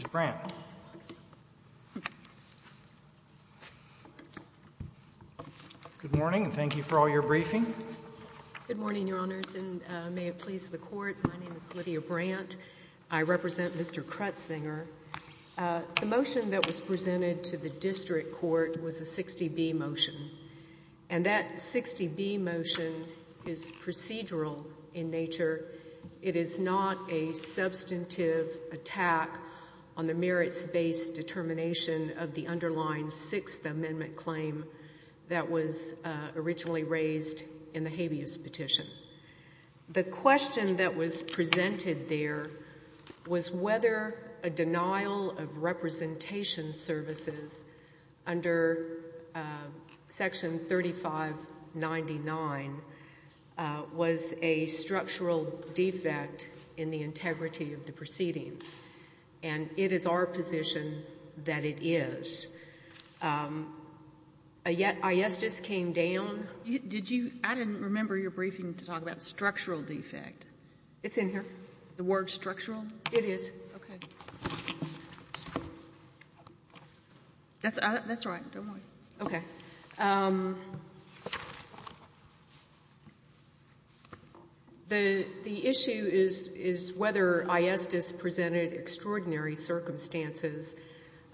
Good morning, Your Honors, and may it please the Court, my name is Lydia Brandt. I represent Mr. Crutsinger. The motion that was presented to the District Court was a 60B motion, and that 60B motion is procedural in nature. It is not a substantive attack on the merits-based determination of the underlying Sixth Amendment claim that was originally raised in the habeas petition. The question that was presented there was whether a denial of representation services under Section 3599 was a structural defect in the integrity of the proceedings. And it is our position that it is. A yes just came down. Did you? I didn't remember your briefing to talk about structural defect. It's in here. The word structural? It is. Okay. That's right. Don't worry. Okay. The issue is whether a yes just presented extraordinary circumstances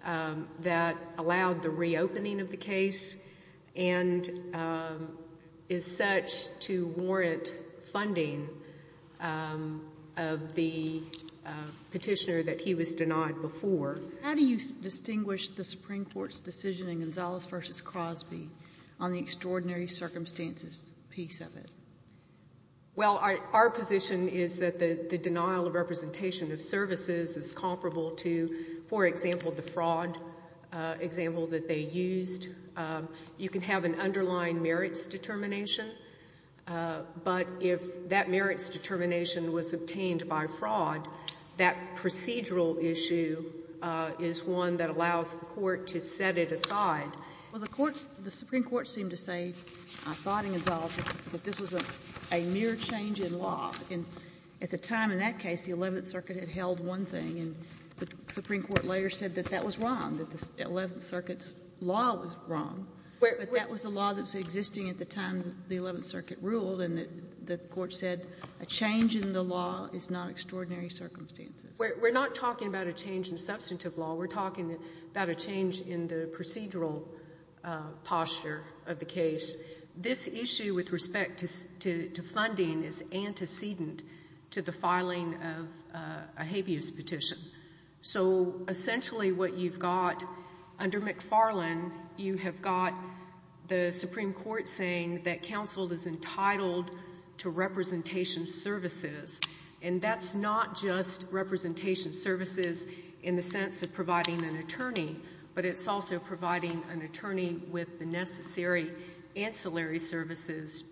that allowed the petitioner that he was denied before. How do you distinguish the Supreme Court's decision in Gonzalez v. Crosby on the extraordinary circumstances piece of it? Well, our position is that the denial of representation of services is comparable to, for example, the fraud example that they used. You can have an underlying merits determination, but if that merits determination was obtained by fraud, that procedural issue is one that allows the Court to set it aside. Well, the Court's – the Supreme Court seemed to say, I thought in Gonzalez, that this was a mere change in law. And at the time in that case, the Eleventh Circuit had held one thing, and the Supreme Court later said that that was wrong, that the Eleventh Circuit's law was wrong. But that was the law that was existing at the time the Eleventh Circuit ruled, and the Court said a change in the law is not extraordinary circumstances. We're not talking about a change in substantive law. We're talking about a change in the procedural posture of the case. This issue with respect to funding is antecedent to the filing of a habeas petition. So essentially what you've got under McFarland, you have got the Supreme Court saying that counsel is entitled to representation services. And that's not just representation services in the sense of providing an attorney, but it's also providing an attorney with the necessary ancillary services,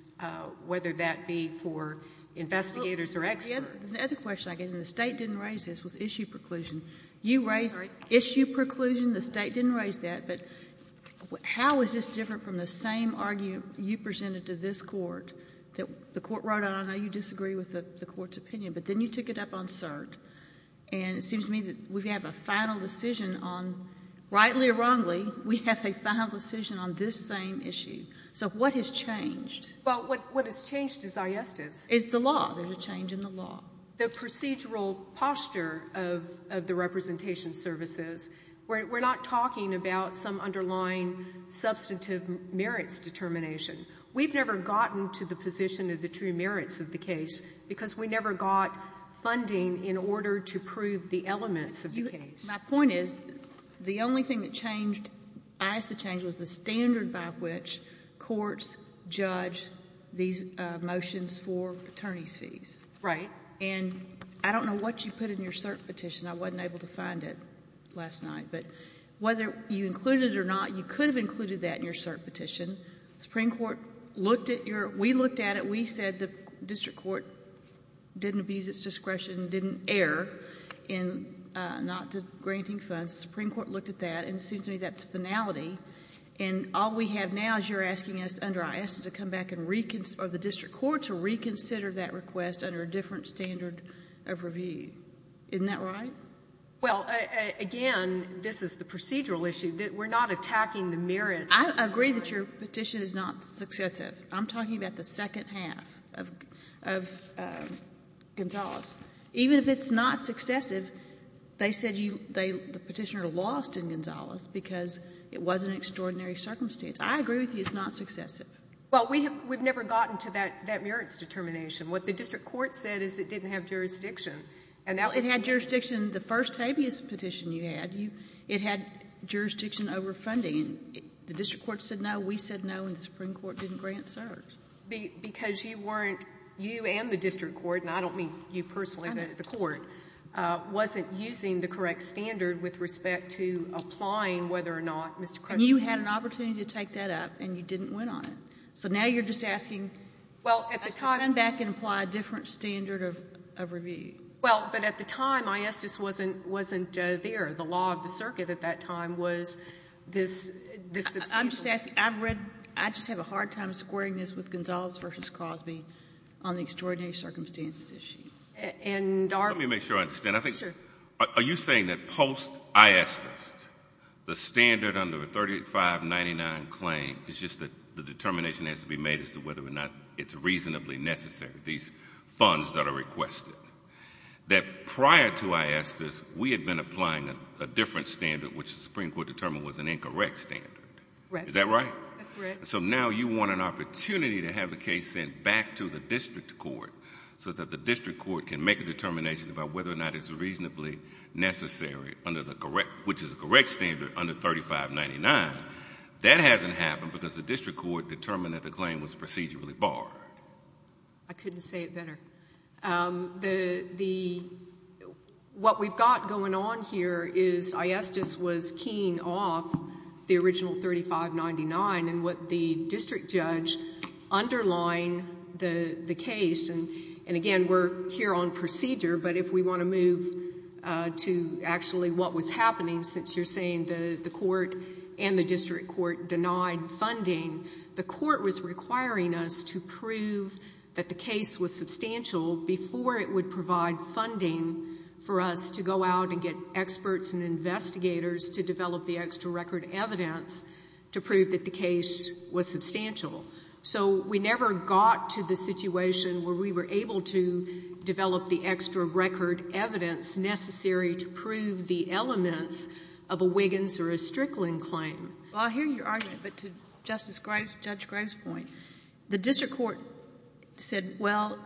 whether that be for investigators or experts. The other question I get, and the State didn't raise this, was issue preclusion. You raised issue preclusion. The State didn't raise that. But how is this different from the same argument you presented to this Court that the Court wrote out, I don't know how you disagree with the Court's opinion, but then you took it up on cert, and it seems to me that we have a final decision on, rightly or wrongly, we have a final decision on this same issue. So what has changed? Well, what has changed is ayestas. It's the law. There's a change in the law. The procedural posture of the representation services, we're not talking about some underlying substantive merits determination. We've never gotten to the position of the true merits of the case because we never got funding in order to prove the elements of the case. My point is the only thing that changed, the standard by which courts judge these motions for attorneys' fees. Right. And I don't know what you put in your cert petition. I wasn't able to find it last night. But whether you included it or not, you could have included that in your cert petition. The Supreme Court looked at your ‑‑ we looked at it. We said the district court didn't abuse its discretion, didn't err in not granting funds. The Supreme Court looked at that, and it seems to me that's finality. And all we have now is you're asking us under ayesta to come back and ‑‑ or the district court to reconsider that request under a different standard of review. Isn't that right? Well, again, this is the procedural issue. We're not attacking the merits. I agree that your petition is not successive. I'm talking about the second half of Gonzales. Even if it's not successive, they said you ‑‑ the petitioner lost in Gonzales because it was an extraordinary circumstance. I agree with you it's not successive. Well, we have ‑‑ we've never gotten to that merits determination. What the district court said is it didn't have jurisdiction. Well, it had jurisdiction, the first habeas petition you had, it had jurisdiction over funding. The district court said no, we said no, and the Supreme Court didn't grant cert. Because you weren't ‑‑ you and the district court, and I don't mean you personally, the court, wasn't using the correct standard with respect to applying whether or not Mr. Crutchfield ‑‑ And you had an opportunity to take that up, and you didn't win on it. So now you're just asking to come back and apply a different standard of review. Well, but at the time, ayestas wasn't there. The law of the circuit at that time was this ‑‑ I just have a hard time squaring this with Gonzales versus Cosby on the extraordinary circumstances issue. Let me make sure I understand. Are you saying that post ayestas, the standard under the 3599 claim is just that the determination has to be made as to whether or not it's reasonably necessary, these funds that are requested, that prior to ayestas, we had been applying a different standard, which the Supreme Court determined was an incorrect standard. Is that right? That's correct. So now you want an opportunity to have the case sent back to the district court so that the district court can make a determination about whether or not it's reasonably necessary under the correct ‑‑ which is the correct standard under 3599. That hasn't happened because the district court determined that the claim was procedurally barred. I couldn't say it better. What we've got going on here is ayestas was keying off the original 3599 and what the district judge underlined the case. And, again, we're here on procedure, but if we want to move to actually what was happening, since you're saying the court and the district court denied funding, the court was requiring us to prove that the case was substantial before it would provide funding for us to go out and get experts and investigators to develop the extra record evidence to prove that the case was substantial. So we never got to the situation where we were able to develop the extra record evidence necessary to prove the elements of a Wiggins or a Strickland claim. Well, I hear your argument, but to Justice Graves, Judge Graves' point, the district court said, well,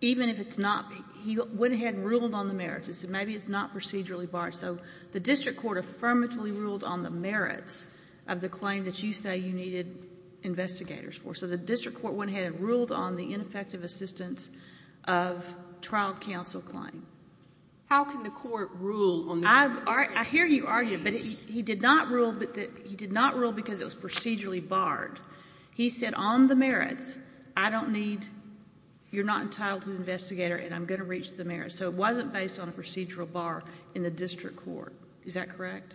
even if it's not ‑‑ he went ahead and ruled on the merits. He said maybe it's not procedurally barred. So the district court affirmatively ruled on the merits of the claim that you say you needed investigators for. So the district court went ahead and ruled on the ineffective assistance of trial counsel claim. How can the court rule on the merits? I hear your argument, but he did not rule because it was procedurally barred. He said on the merits, I don't need ‑‑ you're not entitled to the investigator and I'm going to reach the merits. So it wasn't based on a procedural bar in the district court. Is that correct?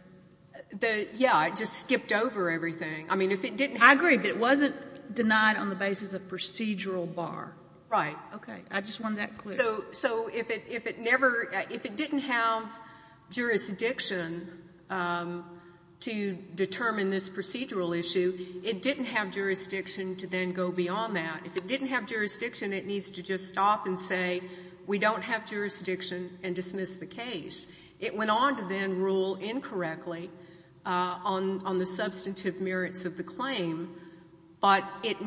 Yeah. It just skipped over everything. I mean, if it didn't have ‑‑ I agree, but it wasn't denied on the basis of procedural bar. Right. Okay. I just wanted that clear. So if it never ‑‑ if it didn't have jurisdiction to determine this procedural issue, it didn't have jurisdiction to then go beyond that. If it didn't have jurisdiction, it needs to just stop and say we don't have jurisdiction and dismiss the case. It went on to then rule incorrectly on the substantive merits of the claim, but it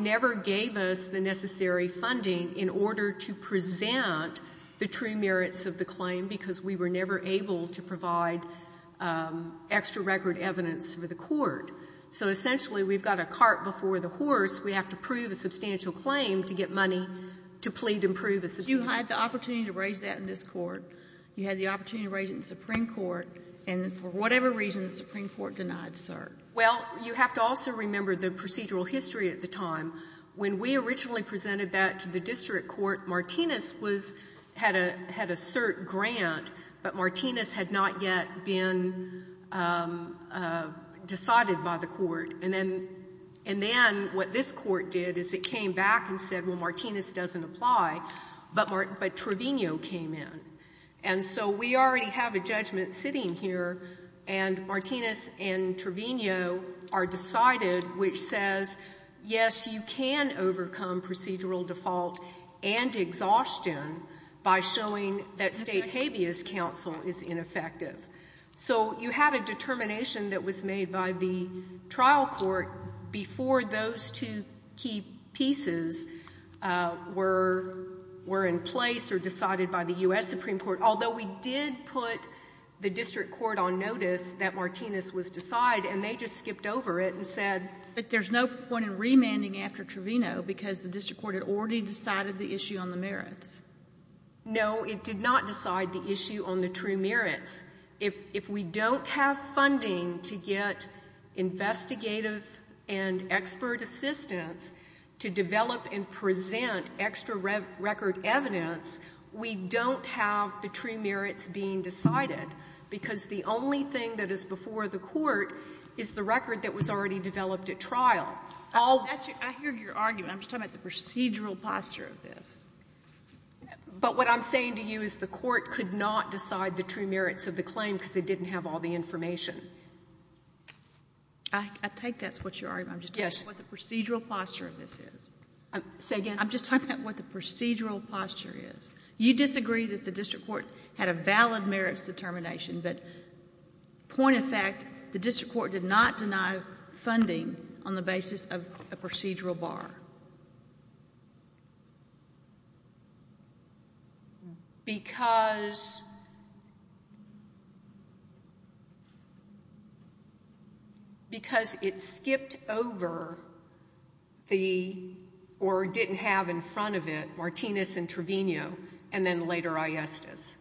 true merits of the claim because we were never able to provide extra record evidence for the court. So essentially, we've got a cart before the horse. We have to prove a substantial claim to get money to plead and prove a substantial claim. You had the opportunity to raise that in this Court. You had the opportunity to raise it in the Supreme Court, and for whatever reason the Supreme Court denied, sir. Well, you have to also remember the procedural history at the time. When we originally presented that to the district court, Martinez had a cert grant, but Martinez had not yet been decided by the court. And then what this court did is it came back and said, well, Martinez doesn't apply, but Trevino came in. And so we already have a judgment sitting here, and Martinez and Trevino are decided which says, yes, you can overcome procedural default and exhaustion by showing that state habeas counsel is ineffective. So you had a determination that was made by the trial court before those two key pieces were in place or decided by the U.S. Supreme Court, although we did put the district court on notice that Martinez was decided, and they just skipped over it and said But there's no point in remanding after Trevino because the district court had already decided the issue on the merits. No, it did not decide the issue on the true merits. If we don't have funding to get investigative and expert assistance to develop and present extra record evidence, we don't have the true merits being decided because the only thing that is before the court is the record that was already developed at trial. I hear your argument. I'm just talking about the procedural posture of this. But what I'm saying to you is the court could not decide the true merits of the claim because it didn't have all the information. I take that's what you're arguing. Yes. I'm just talking about what the procedural posture of this is. Say again? I'm just talking about what the procedural posture is. You disagree that the district court had a valid merits determination, but point of fact, the district court did not deny funding on the basis of a procedural bar. Because it skipped over the or didn't have in front of it Martinez and Trevino and then later Aiestas.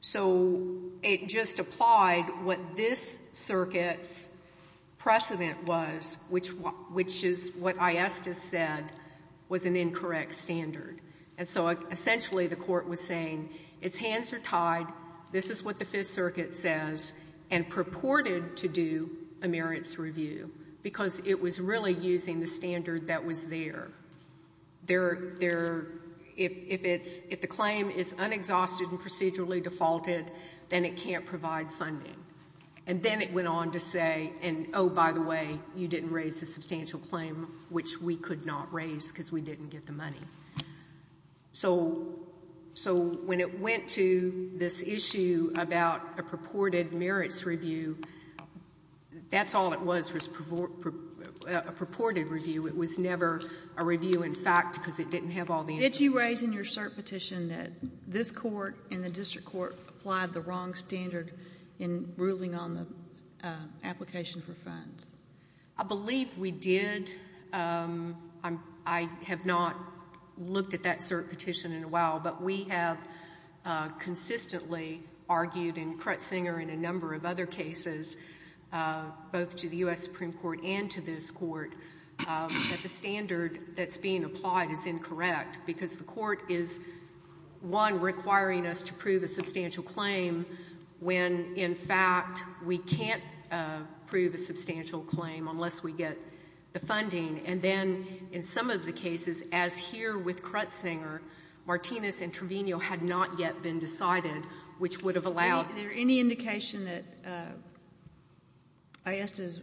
So it just applied what this circuit's precedent was, which is what Aiestas said, was an incorrect standard. And so essentially the court was saying its hands are tied, this is what the Fifth Circuit says, and purported to do a merits review because it was really using the standard that was there. If the claim is unexhausted and procedurally defaulted, then it can't provide funding. And then it went on to say, oh, by the way, you didn't raise a substantial claim, which we could not raise because we didn't get the money. So when it went to this issue about a purported merits review, that's all it was, was a purported review. It was never a review in fact because it didn't have all the information. Did you raise in your cert petition that this court and the district court applied the wrong standard in ruling on the application for funds? I believe we did. I have not looked at that cert petition in a while. But we have consistently argued in Kretsinger and a number of other cases, both to the U.S. Supreme Court and to this court, that the standard that's being applied is incorrect because the court is, one, requiring us to prove a substantial claim when, in fact, we can't prove a substantial claim unless we get the funding. And then in some of the cases, as here with Kretsinger, Martinez and Trevino had not yet been decided, which would have allowed them. Is there any indication that ISDIS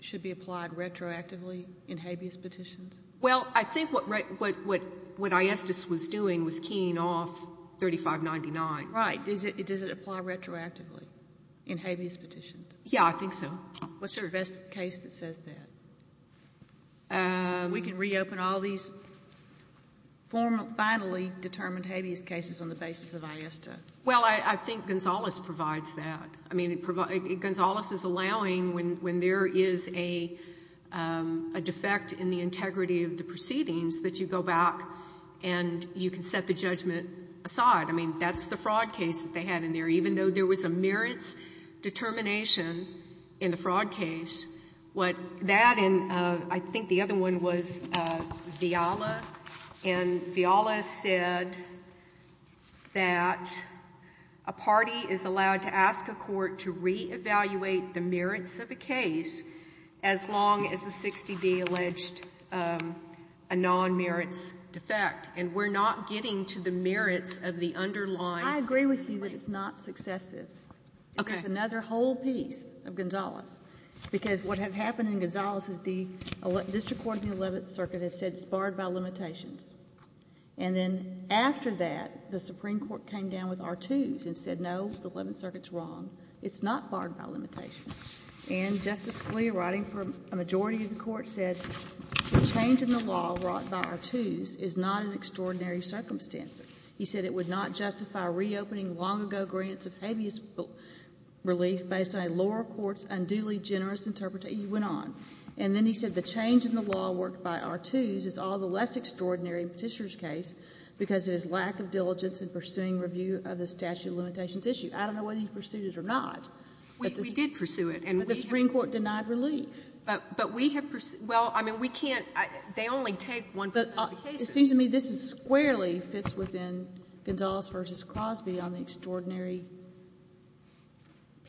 should be applied retroactively in habeas petitions? Well, I think what ISDIS was doing was keying off 3599. Right. Does it apply retroactively in habeas petitions? Yeah, I think so. What's the best case that says that? We can reopen all these formally, finally determined habeas cases on the basis of ISDIS. Well, I think Gonzales provides that. I mean, Gonzales is allowing when there is a defect in the integrity of the proceedings that you go back and you can set the judgment aside. I mean, that's the fraud case that they had in there. Even though there was a merits determination in the fraud case, what that and I think the other one was Viala. And Viala said that a party is allowed to ask a court to reevaluate the merits of a case as long as the 60B alleged a non-merits defect. And we're not getting to the merits of the underlying 60B. I agree with you that it's not successive. Okay. It's another whole piece of Gonzales. Because what had happened in Gonzales is the district court in the Eleventh Circuit had said it's barred by limitations. And then after that, the Supreme Court came down with R2s and said, no, the Eleventh Circuit's wrong. It's not barred by limitations. And Justice Scalia, writing for a majority of the Court, said the change in the law brought by R2s is not an extraordinary circumstance. He said it would not justify reopening long-ago grants of habeas relief based on a lower court's unduly generous interpretation. He went on. And then he said the change in the law worked by R2s is all the less extraordinary in Petitioner's case because of his lack of diligence in pursuing review of the statute of limitations issue. I don't know whether he pursued it or not. We did pursue it. But the Supreme Court denied relief. But we have pursued — well, I mean, we can't — they only take one percent of the cases. It seems to me this is squarely fits within Gonzales v. Crosby on the extraordinary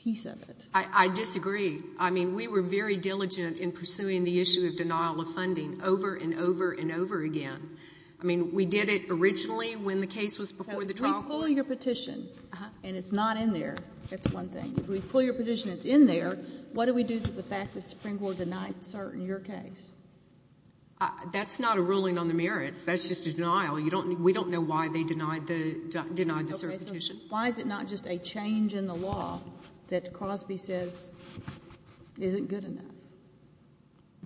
piece of it. I disagree. I mean, we were very diligent in pursuing the issue of denial of funding over and over and over again. I mean, we did it originally when the case was before the trial court. So if we pull your petition and it's not in there, that's one thing. But if we pull your petition and it's in there, what do we do to the fact that the Supreme Court denied cert in your case? That's not a ruling on the merits. That's just a denial. We don't know why they denied the cert petition. Okay. So why is it not just a change in the law that Crosby says isn't good enough?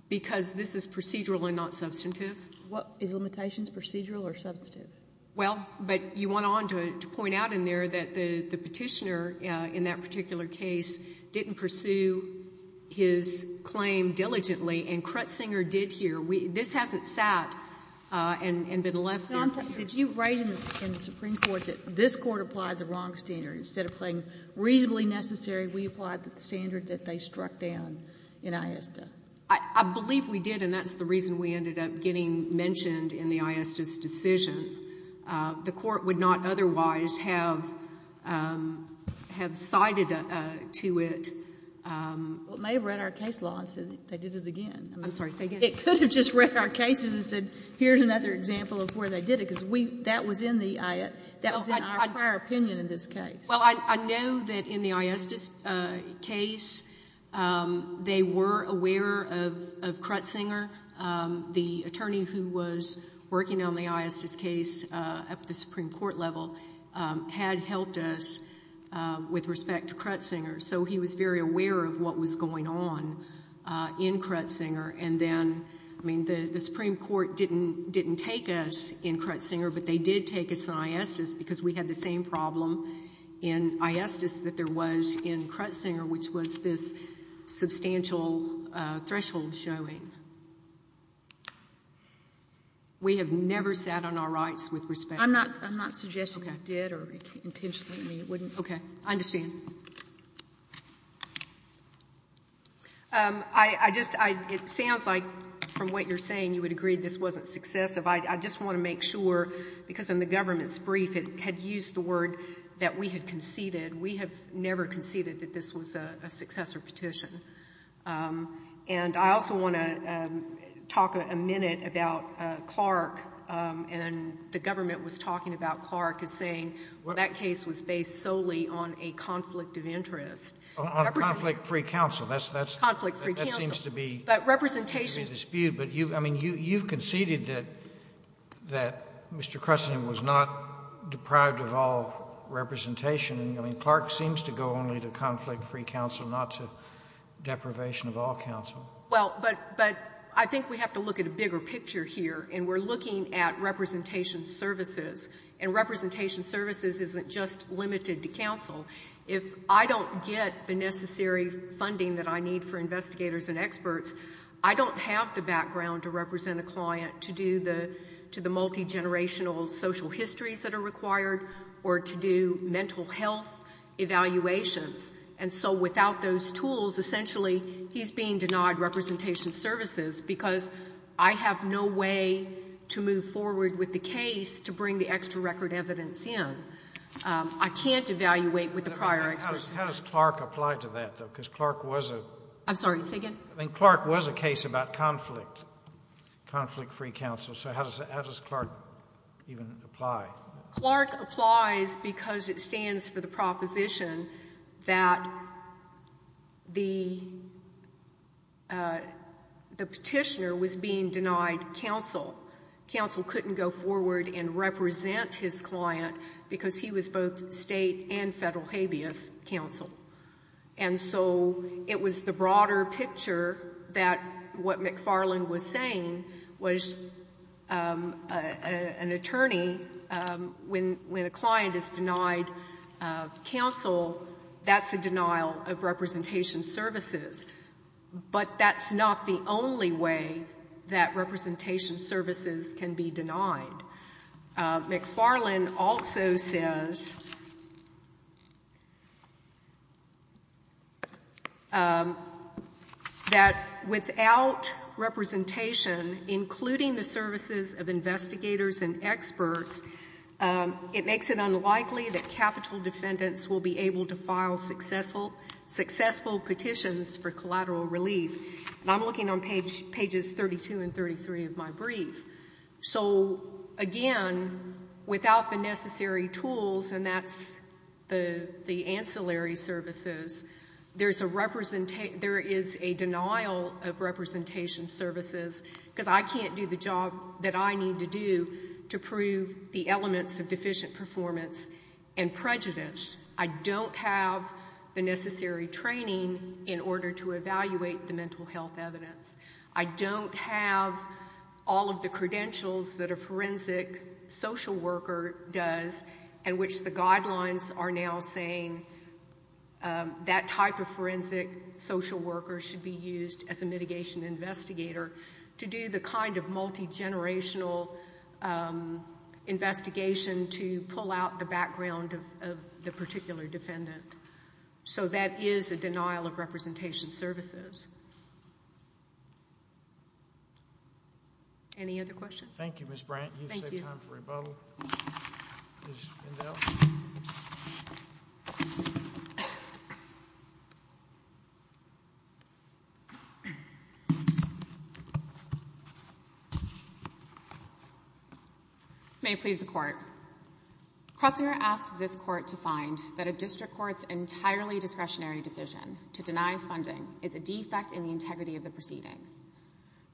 Because this is procedural and not substantive. Is limitations procedural or substantive? Well, but you went on to point out in there that the petitioner in that particular case didn't pursue his claim diligently, and Krutzinger did here. This hasn't sat and been left in. Did you write in the Supreme Court that this Court applied the wrong standard? Instead of saying reasonably necessary, we applied the standard that they struck down in ISDA? I believe we did, and that's the reason we ended up getting mentioned in the ISDA's decision. The Court would not otherwise have cited to it. Well, it may have read our case law and said they did it again. I'm sorry. Say again. It could have just read our cases and said here's another example of where they did it, because that was in our prior opinion in this case. Well, I know that in the ISDA's case they were aware of Krutzinger, the attorney who was working on the ISDA's case at the Supreme Court level had helped us with respect to Krutzinger. So he was very aware of what was going on in Krutzinger, and then, I mean, the Supreme Court didn't take us in Krutzinger, but they did take us in ISDA's because we had the same problem in ISDA's that there was in Krutzinger, which was this substantial threshold showing. We have never sat on our rights with respect to Krutzinger. I'm not suggesting you did or intentionally you wouldn't. Okay. I understand. I just, it sounds like from what you're saying you would agree this wasn't successive. I just want to make sure, because in the government's brief it had used the word that we had conceded. We have never conceded that this was a successor petition. And I also want to talk a minute about Clark, and the government was talking about Clark as saying that case was based solely on a conflict of interest. On conflict-free counsel. That's conflict-free counsel. That seems to be a dispute. But representation. But you've conceded that Mr. Krutzinger was not deprived of all representation and Clark seems to go only to conflict-free counsel, not to deprivation of all counsel. Well, but I think we have to look at a bigger picture here, and we're looking at representation services. And representation services isn't just limited to counsel. If I don't get the necessary funding that I need for investigators and experts, I don't have the background to represent a client, to do the multigenerational social histories that are required, or to do mental health evaluations. And so without those tools, essentially he's being denied representation services because I have no way to move forward with the case to bring the extra record evidence in. I can't evaluate with the prior experts. How does Clark apply to that, though? Because Clark was a case about conflict, conflict-free counsel. So how does Clark even apply? Clark applies because it stands for the proposition that the Petitioner was being denied counsel. Counsel couldn't go forward and represent his client because he was both State and Federal habeas counsel. And so it was the broader picture that what McFarland was saying was an attorney when a client is denied counsel, that's a denial of representation services. But that's not the only way that representation services can be denied. McFarland also says that without representation, including the services of investigators and experts, it makes it unlikely that capital defendants will be able to file successful petitions for collateral relief. And I'm looking on pages 32 and 33 of my brief. So, again, without the necessary tools, and that's the ancillary services, there is a denial of representation services because I can't do the job that I need to do to prove the elements of deficient performance and prejudice. I don't have the necessary training in order to evaluate the mental health evidence. I don't have all of the credentials that a forensic social worker does and which the guidelines are now saying that type of forensic social worker should be used as a mitigation investigator to do the kind of multigenerational investigation to pull out the background of the particular defendant. So that is a denial of representation services. Any other questions? Thank you, Ms. Brandt. You've saved time for rebuttal. Ms. Vendel? May it please the Court. Krotzinger asked this Court to find that a district court's entirely discretionary decision to deny funding is a defect in the integrity of the proceedings.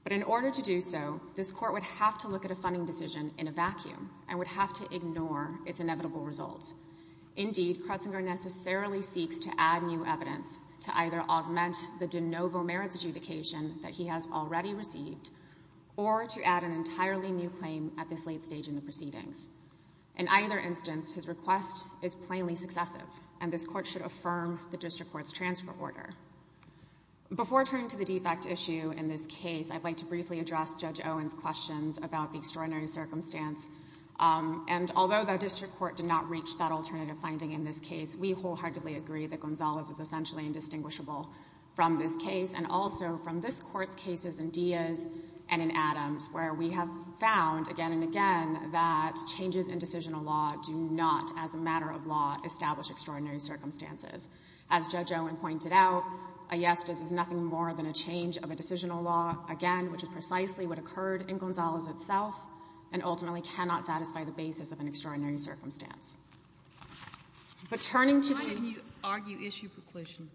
But in order to do so, this Court would have to look at a funding decision in a vacuum and would have to ignore its inevitable results. Indeed, Krotzinger necessarily seeks to add new evidence to either augment the de novo merits adjudication that he has already received or to add an entirely new claim at this late stage in the proceedings. In either instance, his request is plainly successive, and this Court should affirm the district court's transfer order. Before turning to the defect issue in this case, I'd like to briefly address Judge Owen's questions about the extraordinary circumstance. And although the district court did not reach that alternative finding in this case, we wholeheartedly agree that Gonzalez is essentially indistinguishable from this case and also from this Court's cases in Diaz and in Adams, where we have found again and again that changes in decisional law do not, as a matter of law, establish extraordinary circumstances. As Judge Owen pointed out, a yes does nothing more than a change of a decisional law, again, which is precisely what occurred in Gonzalez itself, and ultimately cannot satisfy the basis of an extraordinary circumstance. But turning to the — Why did you argue issue preclusion?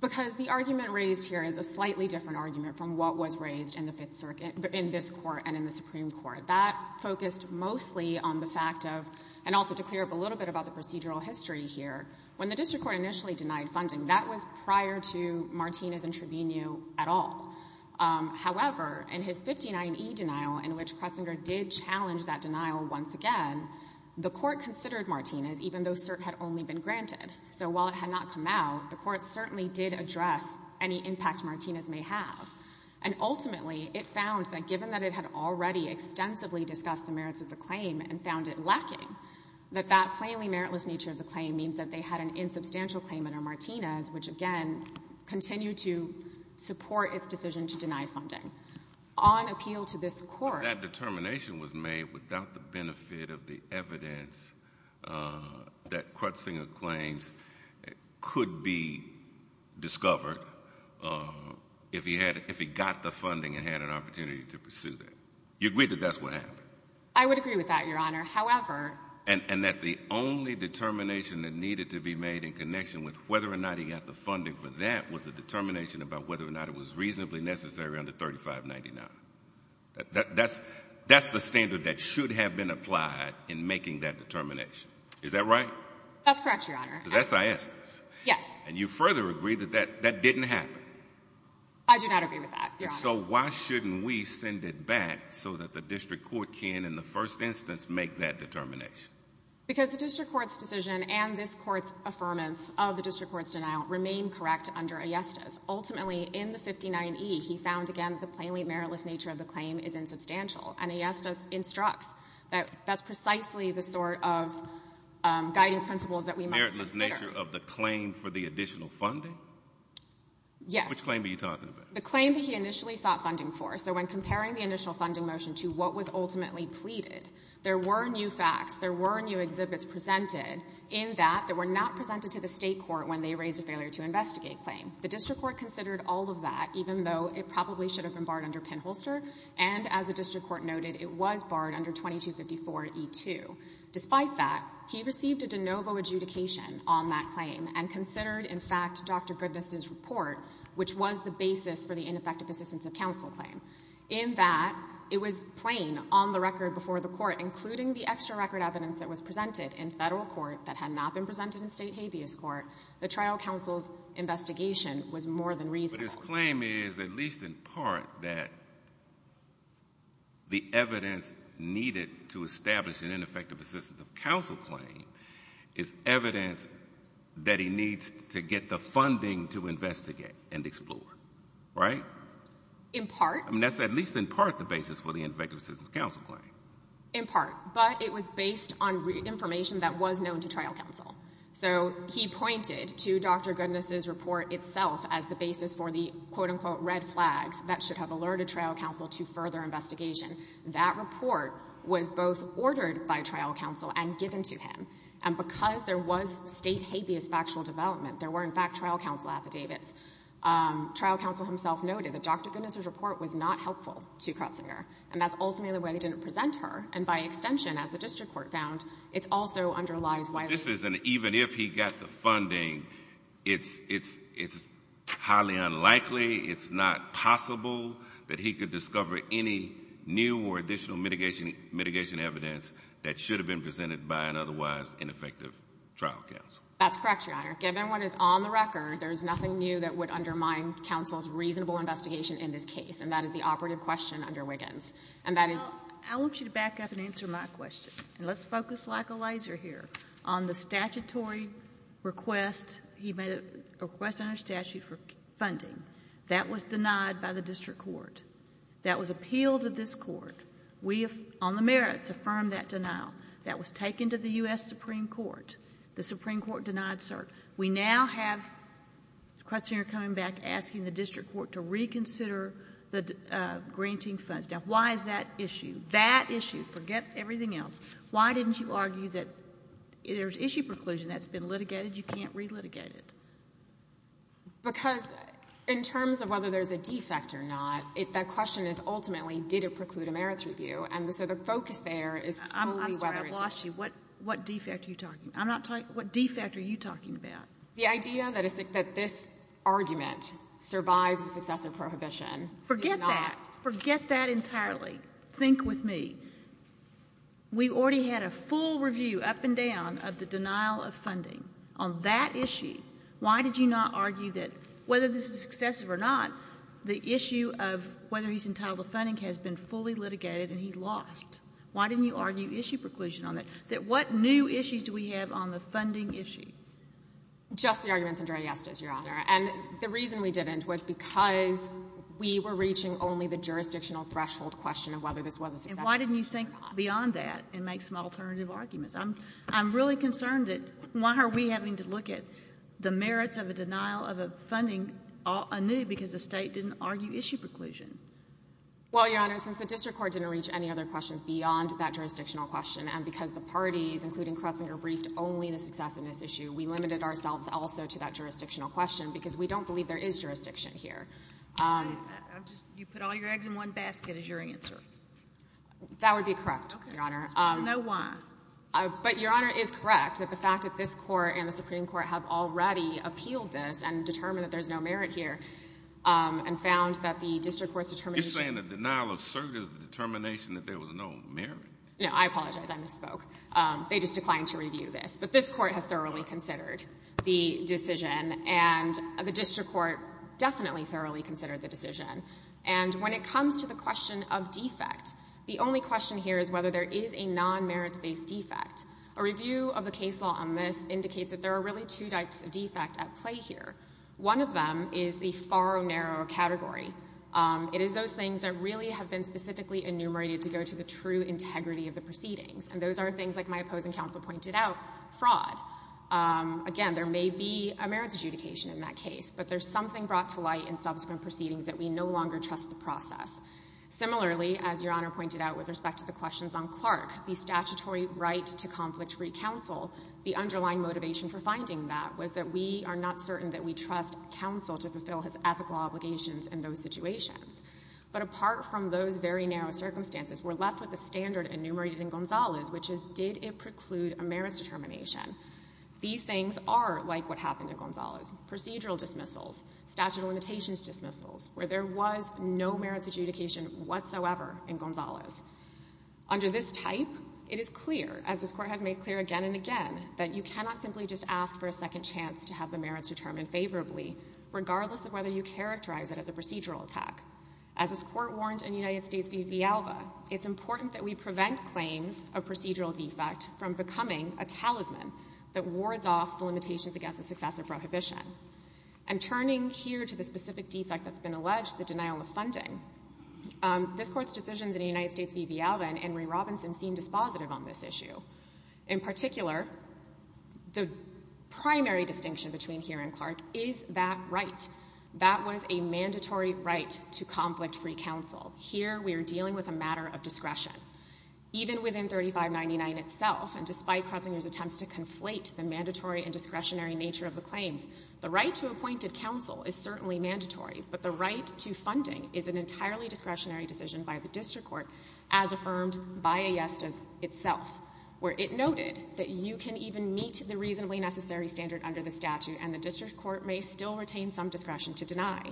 Because the argument raised here is a slightly different argument from what was raised in the Fifth Circuit — in this Court and in the Supreme Court. That focused mostly on the fact of — and also to clear up a little bit about the procedural history here. When the district court initially denied funding, that was prior to Martinez and Trevino at all. However, in his 59E denial, in which Kretzinger did challenge that denial once again, the Court considered Martinez, even though cert had only been granted. So while it had not come out, the Court certainly did address any impact Martinez may have. And ultimately, it found that given that it had already extensively discussed the merits of the claim and found it lacking, that that plainly meritless nature of the claim means that they had an insubstantial claim under Martinez, which again continued to support its decision to deny funding. On appeal to this Court — But that determination was made without the benefit of the evidence that Kretzinger claims could be discovered if he had — if he got the funding and had an opportunity to pursue that. You agree that that's what happened? I would agree with that, Your Honor. However — And that the only determination that needed to be made in connection with whether or not he got the funding for that was a determination about whether or not it was reasonably necessary under 3599. That's the standard that should have been applied in making that determination. Is that right? That's correct, Your Honor. Because that's ayestas. Yes. And you further agree that that didn't happen? I do not agree with that, Your Honor. And so why shouldn't we send it back so that the district court can, in the first instance, make that determination? Because the district court's decision and this Court's affirmance of the district court's denial remain correct under ayestas. Ultimately, in the 59e, he found, again, the plainly meritless nature of the claim is insubstantial. And ayestas instructs that that's precisely the sort of guiding principles that we must consider. Meritless nature of the claim for the additional funding? Yes. Which claim are you talking about? The claim that he initially sought funding for. So when comparing the initial funding motion to what was ultimately pleaded, there were new facts, there were new exhibits presented in that that were not presented to the State court when they raised a failure to investigate claim. The district court considered all of that, even though it probably should have been barred under Penholster. And as the district court noted, it was barred under 2254e2. Despite that, he received a de novo adjudication on that claim and considered, in fact, Dr. Goodness's report, which was the basis for the ineffective assistance of counsel claim. In that, it was plain on the record before the court, including the extra record evidence that was presented in Federal court that had not been presented in State habeas court, the trial counsel's investigation was more than reasonable. But his claim is, at least in part, that the evidence needed to establish an ineffective assistance of counsel claim is evidence that he needs to get the funding to investigate and explore. Right? In part. I mean, that's at least in part the basis for the ineffective assistance of counsel claim. In part. But it was based on information that was known to trial counsel. So he pointed to Dr. Goodness's report itself as the basis for the, quote-unquote, red flags that should have alerted trial counsel to further investigation. That report was both ordered by trial counsel and given to him. And because there was State habeas factual development, there were, in fact, trial counsel affidavits. Trial counsel himself noted that Dr. Goodness's report was not helpful to Krotzinger. And that's ultimately the way they didn't present her. And by extension, as the district court found, it also underlies why this is an even if he got the funding, it's highly unlikely, it's not possible that he could discover any new or additional mitigation evidence that should have been presented by an otherwise ineffective trial counsel. That's correct, Your Honor. Given what is on the record, there's nothing new that would undermine counsel's reasonable investigation in this case. And that is the operative question under Wiggins. Well, I want you to back up and answer my question. And let's focus like a laser here on the statutory request. He made a request under statute for funding. That was denied by the district court. That was appealed to this court. We, on the merits, affirmed that denial. That was taken to the U.S. Supreme Court. The Supreme Court denied cert. We now have Krotzinger coming back asking the district court to reconsider the Why is that issue? That issue. Forget everything else. Why didn't you argue that there's issue preclusion that's been litigated. You can't relitigate it. Because in terms of whether there's a defect or not, that question is ultimately did it preclude a merits review. And so the focus there is solely whether it did. I'm sorry. I've lost you. What defect are you talking about? I'm not talking to you. What defect are you talking about? The idea that this argument survives a successive prohibition. Forget that. Forget that entirely. Think with me. We already had a full review up and down of the denial of funding. On that issue, why did you not argue that whether this is successive or not, the issue of whether he's entitled to funding has been fully litigated and he lost. Why didn't you argue issue preclusion on that? That what new issues do we have on the funding issue? Just the arguments, Your Honor. And the reason we didn't was because we were reaching only the jurisdictional threshold question of whether this was a successive or not. And why didn't you think beyond that and make some alternative arguments? I'm really concerned that why are we having to look at the merits of a denial of a funding anew because the State didn't argue issue preclusion? Well, Your Honor, since the district court didn't reach any other questions beyond that jurisdictional question and because the parties, including Krotzinger, briefed only the successiveness issue, we limited ourselves also to that jurisdictional question because we don't believe there is jurisdiction here. You put all your eggs in one basket is your answer. That would be correct, Your Honor. No why? But, Your Honor, it is correct that the fact that this court and the Supreme Court have already appealed this and determined that there's no merit here and found that the district court's determination to You're saying the denial of cert is the determination that there was no merit? No, I apologize. I misspoke. They just declined to review this. But this court has thoroughly considered the decision and the district court definitely thoroughly considered the decision. And when it comes to the question of defect, the only question here is whether there is a non-merits-based defect. A review of the case law on this indicates that there are really two types of defect at play here. One of them is the far or narrow category. It is those things that really have been specifically enumerated to go to the true integrity of the proceedings. And those are things, like my opposing counsel pointed out, fraud. Again, there may be a merits adjudication in that case, but there's something brought to light in subsequent proceedings that we no longer trust the process. Similarly, as Your Honor pointed out with respect to the questions on Clark, the statutory right to conflict-free counsel, the underlying motivation for finding that was that we are not certain that we trust counsel to fulfill his ethical obligations in those situations. But apart from those very narrow circumstances, we're left with the standard enumerated in Gonzalez, which is did it preclude a merits determination. These things are like what happened in Gonzalez. Procedural dismissals, statute of limitations dismissals, where there was no merits adjudication whatsoever in Gonzalez. Under this type, it is clear, as this Court has made clear again and again, that you cannot simply just ask for a second chance to have the merits determined favorably, regardless of whether you characterize it as a procedural attack. As this Court warned in United States v. Villalba, it's important that we prevent claims of procedural defect from becoming a talisman that wards off the limitations against the success of prohibition. And turning here to the specific defect that's been alleged, the denial of funding, this Court's decisions in United States v. Villalba and Henry Robinson seem dispositive on this issue. In particular, the primary distinction between here and Clark is that right. That was a mandatory right to conflict-free counsel. Here, we are dealing with a matter of discretion. Even within 3599 itself, and despite Krotzinger's attempts to conflate the mandatory and discretionary nature of the claims, the right to appointed counsel is certainly mandatory, but the right to funding is an entirely discretionary decision by the district court, as affirmed by Aiesta itself, where it noted that you can even meet the reasonably necessary standard under the statute and the district court may still retain some discretion to deny.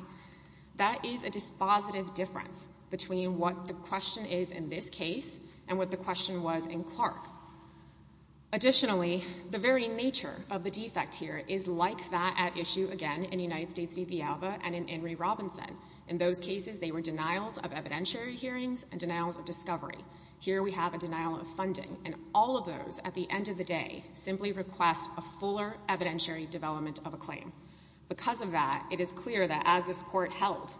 That is a dispositive difference between what the question is in this case and what the question was in Clark. Additionally, the very nature of the defect here is like that at issue again in United States v. Villalba and in Henry Robinson. In those cases, they were denials of evidentiary hearings and denials of discovery. Here, we have a denial of funding, and all of those, at the end of the day, simply request a fuller evidentiary development of a claim. Because of that, it is clear that as this court held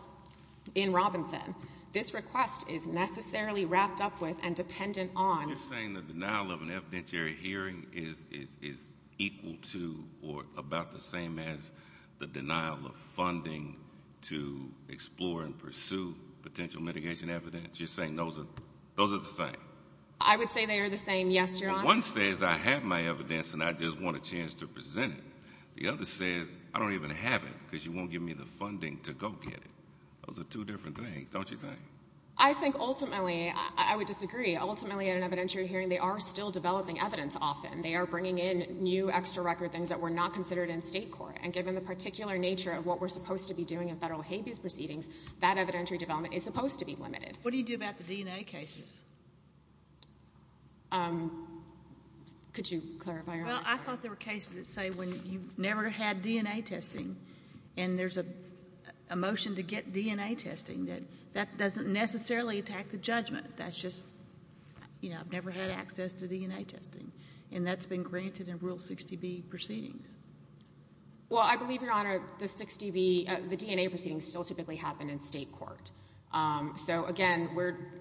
in Robinson, this request is necessarily wrapped up with and dependent on... You're saying the denial of an evidentiary hearing is equal to or about the same as the denial of funding to explore and pursue potential mitigation evidence? You're saying those are the same? I would say they are the same, yes, Your Honor. One says, I have my evidence, and I just want a chance to present it. The other says, I don't even have it because you won't give me the funding to go get it. Those are two different things, don't you think? I think ultimately, I would disagree. Ultimately, in an evidentiary hearing, they are still developing evidence often. They are bringing in new extra record things that were not considered in state court. And given the particular nature of what we're supposed to be doing in federal habeas proceedings, that evidentiary development is supposed to be limited. What do you do about the DNA cases? Could you clarify? Well, I thought there were cases that say when you never had DNA testing and there's a motion to get DNA testing, that that doesn't necessarily attack the judgment. That's just, you know, I've never had access to DNA testing. And that's been granted in Rule 60B proceedings. Well, I believe, Your Honor, the 60B, the DNA proceedings still typically happen in state court. So, again,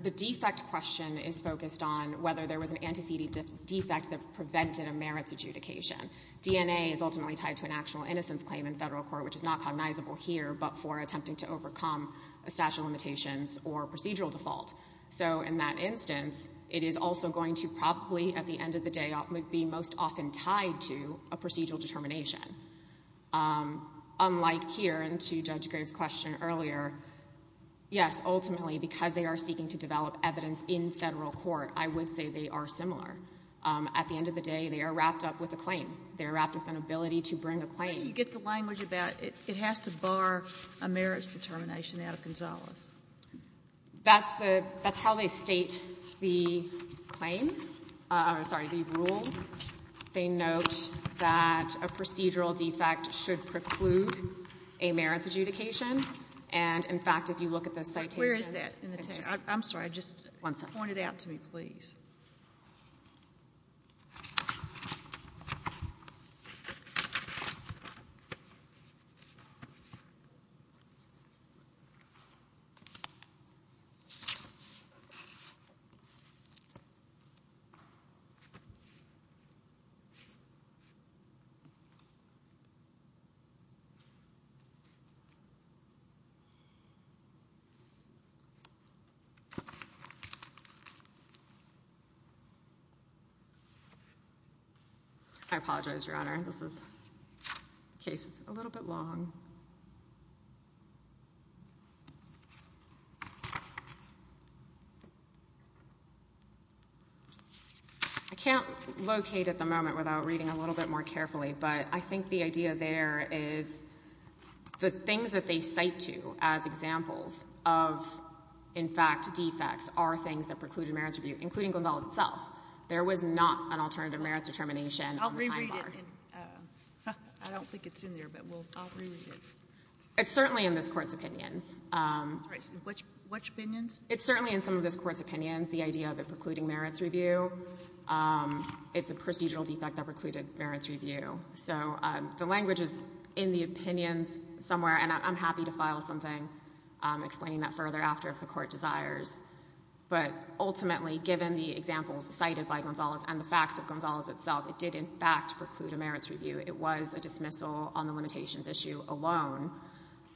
the defect question is focused on whether there was an antecedent defect that prevented a merits adjudication. DNA is ultimately tied to an actual innocence claim in federal court, which is not cognizable here, but for attempting to overcome a statute of limitations or procedural default. So, in that instance, it is also going to probably, at the end of the day, be most often tied to a procedural determination. Unlike here and to Judge Green's question earlier, yes, ultimately because they are seeking to develop evidence in federal court, I would say they are similar. At the end of the day, they are wrapped up with a claim. They are wrapped up with an ability to bring a claim. You get the language about it has to bar a merits determination out of Gonzales. That's how they state the claim. I'm sorry, the rule. They note that a procedural defect should preclude a merits adjudication. And, in fact, if you look at the citations. Where is that in the text? I'm sorry. Just point it out to me, please. I apologize, Your Honor. This case is a little bit long. I can't locate at the moment without reading a little bit more carefully, but I think the idea there is the things that they cite to as examples of, in fact, defects are things that preclude a merits review, including Gonzales itself. There was not an alternative merits determination on the time bar. I'll reread it. I don't think it's in there, but I'll reread it. It's certainly in this Court's opinions. I'm sorry. Which opinions? It's certainly in some of this Court's opinions, the idea of it precluding merits review. It's a procedural defect that precluded merits review. So the language is in the opinions somewhere, and I'm happy to file something explaining that further after if the Court desires. But, ultimately, given the examples cited by Gonzales and the facts of Gonzales itself, it did, in fact, preclude a merits review. It was a dismissal on the limitations issue alone,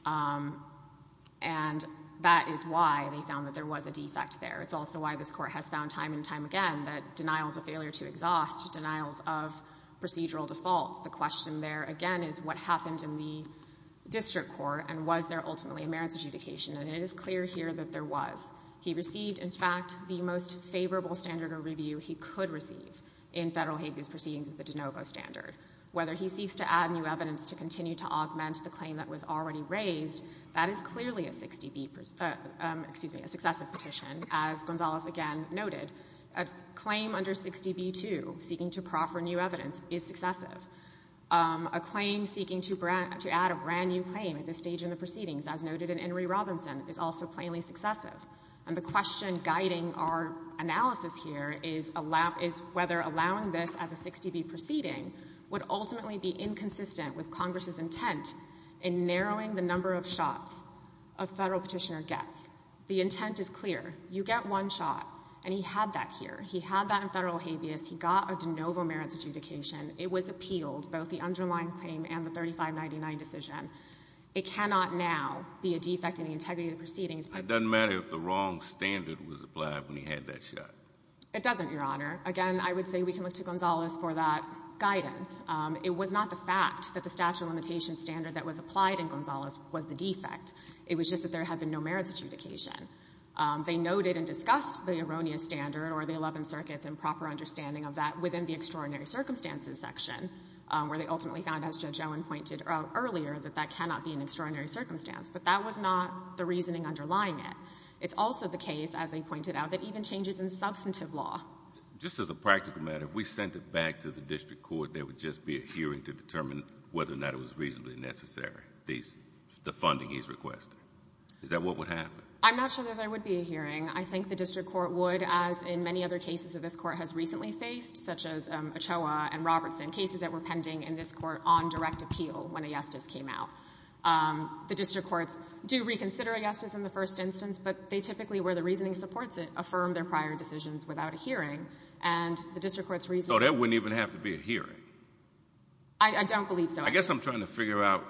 and that is why they found that there was a defect there. It's also why this Court has found time and time again that denial is a failure to exhaust, denials of procedural defaults. The question there, again, is what happened in the district court, and was there ultimately a merits adjudication? And it is clear here that there was. He received, in fact, the most favorable standard of review he could receive in Federal habeas proceedings with the de novo standard. Whether he seeks to add new evidence to continue to augment the claim that was already raised, that is clearly a 60B, excuse me, a successive petition, as Gonzales, again, noted. A claim under 60B2, seeking to proffer new evidence, is successive. A claim seeking to add a brand-new claim at this stage in the proceedings, as noted in In re. Robinson, is also plainly successive. And the question guiding our analysis here is whether allowing this as a 60B proceeding would ultimately be inconsistent with Congress's intent in narrowing the number of shots a Federal petitioner gets. The intent is clear. You get one shot, and he had that here. He had that in Federal habeas. He got a de novo merits adjudication. It was appealed, both the underlying claim and the 3599 decision. It cannot now be a defect in the integrity of the proceedings. It doesn't matter if the wrong standard was applied when he had that shot. It doesn't, Your Honor. Again, I would say we can look to Gonzales for that guidance. It was not the fact that the statute of limitations standard that was applied in Gonzales was the defect. It was just that there had been no merits adjudication. They noted and discussed the erroneous standard or the Eleventh Circuit's improper understanding of that within the extraordinary circumstances section, where they ultimately found, as Judge Owen pointed out earlier, that that cannot be an extraordinary circumstance. But that was not the reasoning underlying it. It's also the case, as they pointed out, that even changes in substantive law. Just as a practical matter, if we sent it back to the district court, there would just be a hearing to determine whether or not it was reasonably necessary, the funding he's requesting. Is that what would happen? I'm not sure that there would be a hearing. I think the district court would, as in many other cases that this Court has recently faced, such as Ochoa and Robertson, cases that were pending in this Court on direct appeal when a yes just came out. The district courts do reconsider a yes just in the first instance, but they typically, where the reasoning supports it, affirm their prior decisions without a hearing. And the district court's reasoning — So there wouldn't even have to be a hearing? I don't believe so. I guess I'm trying to figure out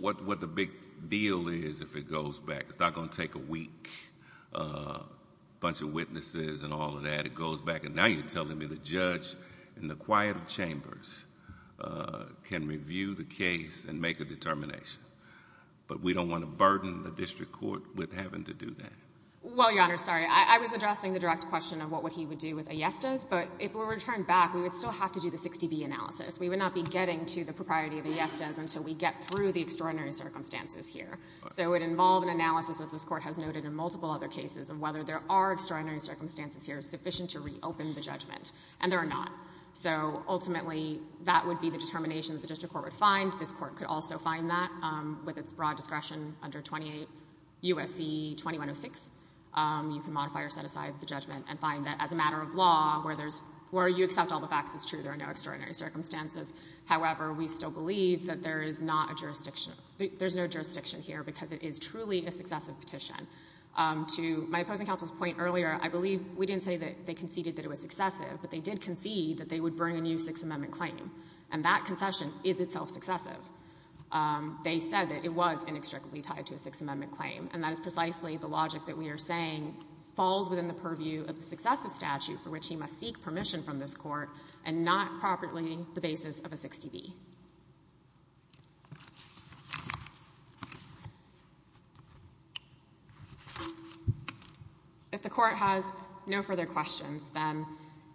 what the big deal is if it goes back. It's not going to take a week, a bunch of witnesses and all of that. It goes back. And now you're telling me the judge in the quiet of chambers can review the case and make a determination. But we don't want to burden the district court with having to do that. Well, Your Honor, sorry. I was addressing the direct question of what he would do with a yes just. But if we were to turn back, we would still have to do the 60B analysis. We would not be getting to the propriety of a yes just until we get through the extraordinary circumstances here. So it would involve an analysis, as this Court has noted in multiple other cases, of whether there are extraordinary circumstances here sufficient to reopen the judgment. And there are not. So ultimately, that would be the determination that the district court would find. This Court could also find that with its broad discretion under 28 U.S.C. 2106. You can modify or set aside the judgment and find that as a matter of law, where you accept all the facts, it's true. There are no extraordinary circumstances. However, we still believe that there is not a jurisdiction — there's no jurisdiction here because it is truly a successive petition to my opposing counsel's point earlier. I believe we didn't say that they conceded that it was successive, but they did concede that they would bring a new Sixth Amendment claim. And that concession is itself successive. They said that it was inextricably tied to a Sixth Amendment claim. And that is precisely the logic that we are saying falls within the purview of the successive statute for which he must seek permission from this Court and not properly the basis of a 60B. If the Court has no further questions, then,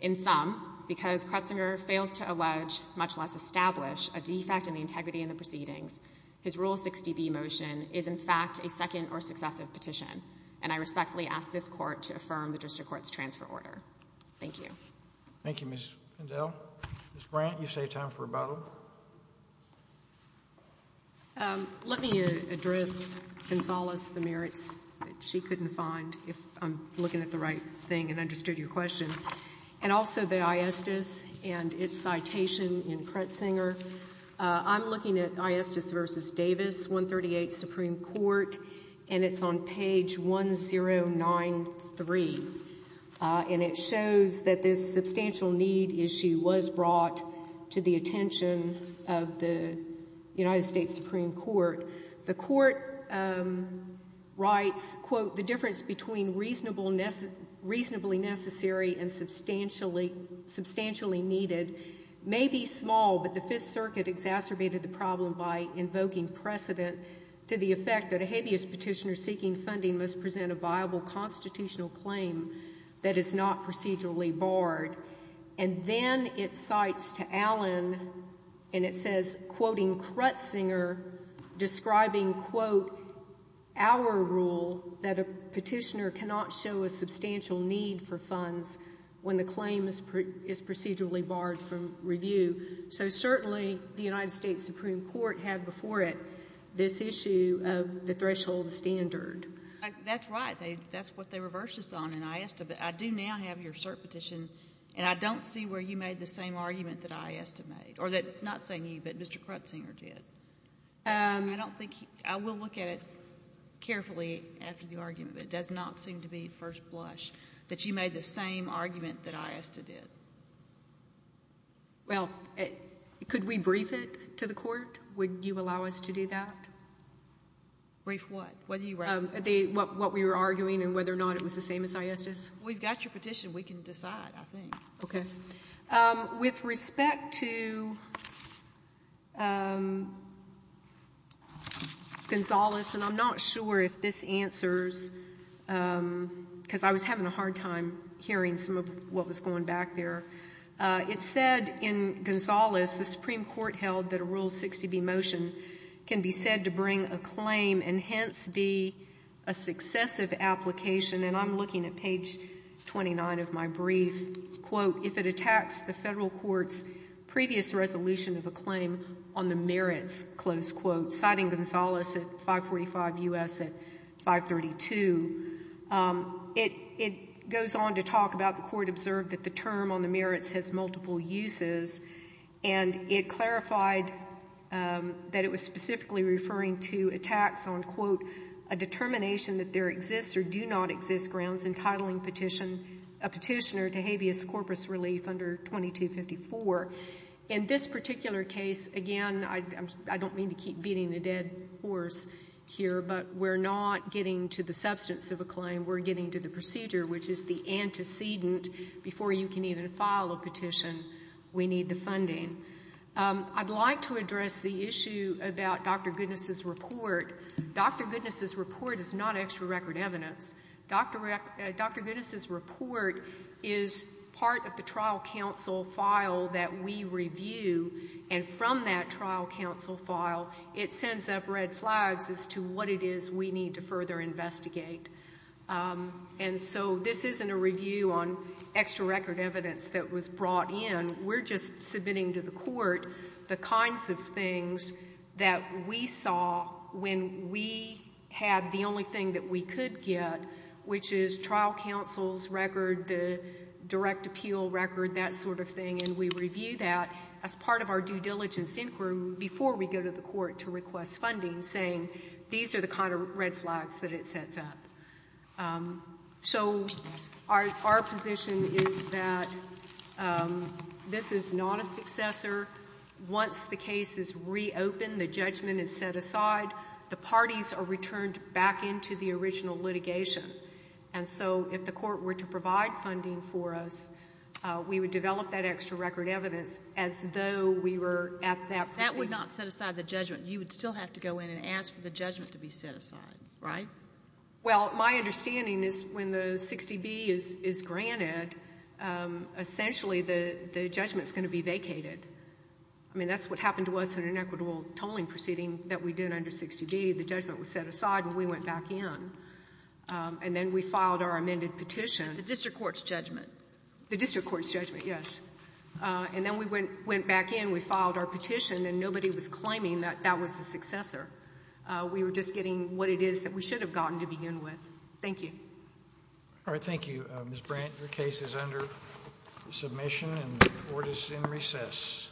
in sum, because Kretzinger fails to allege, much less establish, a defect in the integrity in the proceedings, his Rule 60B motion is, in fact, a second or successive petition. And I respectfully ask this Court to affirm the district court's transfer order. Thank you. Thank you, Ms. Pindell. Ms. Brandt, you've saved time for rebuttal. Let me address Gonzales the merits that she couldn't find, if I'm looking at the right thing and understood your question, and also the iestas and its citation in Kretzinger. I'm looking at iestas v. Davis, 138 Supreme Court, and it's on page 1093. And it shows that this substantial need issue was brought to the attention of the United States Supreme Court. The Court writes, quote, the difference between reasonably necessary and substantially needed may be small, but the Fifth Circuit exacerbated the problem by invoking precedent to the effect that a habeas petitioner seeking funding must present a viable constitutional claim that is not procedurally barred. And then it cites to Allen, and it says, quoting Kretzinger, describing, quote, our rule that a petitioner cannot show a substantial need for funds when the claim is procedurally barred from review. So certainly the United States Supreme Court had before it this issue of the threshold standard. That's right. That's what they reversed this on in iesta. But I do now have your cert petition, and I don't see where you made the same argument that iesta made, or that, not saying you, but Mr. Kretzinger did. I don't think he – I will look at it carefully after the argument, but it does not seem to be at first blush that you made the same argument that iesta did. Well, could we brief it to the court? Would you allow us to do that? Brief what? What we were arguing and whether or not it was the same as iesta's? We've got your petition. We can decide, I think. Okay. With respect to Gonzales, and I'm not sure if this answers, because I was having a hard time hearing some of what was going back there. It said in Gonzales the Supreme Court held that a Rule 60b motion can be said to bring a claim and hence be a successive application. And I'm looking at page 29 of my brief. Quote, if it attacks the federal court's previous resolution of a claim on the merits, citing Gonzales at 545 U.S. at 532, it goes on to talk about the court observed that the term on the merits has multiple uses, and it clarified that it was specifically referring to attacks on, quote, a determination that there exists or do not exist grounds entitling a petitioner to habeas corpus relief under 2254. In this particular case, again, I don't mean to keep beating the dead horse here, but we're not getting to the substance of a claim. We're getting to the procedure, which is the antecedent. Before you can even file a petition, we need the funding. I'd like to address the issue about Dr. Goodness's report. Dr. Goodness's report is not extra record evidence. Dr. Goodness's report is part of the trial counsel file that we review, and from that trial counsel file it sends up red flags as to what it is we need to further investigate. And so this isn't a review on extra record evidence that was brought in. We're just submitting to the court the kinds of things that we saw when we had the only thing that we could get, which is trial counsel's record, the direct appeal record, that sort of thing, and we review that as part of our due diligence inquiry before we go to the court to request funding, saying these are the kind of red flags that it sets up. So our position is that this is not a successor. Once the case is reopened, the judgment is set aside, the parties are returned back into the original litigation. And so if the court were to provide funding for us, we would develop that extra record evidence as though we were at that procedure. That would not set aside the judgment. You would still have to go in and ask for the judgment to be set aside, right? Well, my understanding is when the 60B is granted, essentially the judgment is going to be vacated. I mean, that's what happened to us in an equitable tolling proceeding that we did under 60B. The judgment was set aside and we went back in. And then we filed our amended petition. The district court's judgment. The district court's judgment, yes. And then we went back in, we filed our petition, and nobody was claiming that that was the successor. We were just getting what it is that we should have gotten to begin with. Thank you. All right, thank you, Ms. Brandt. Your case is under submission and the court is in recess.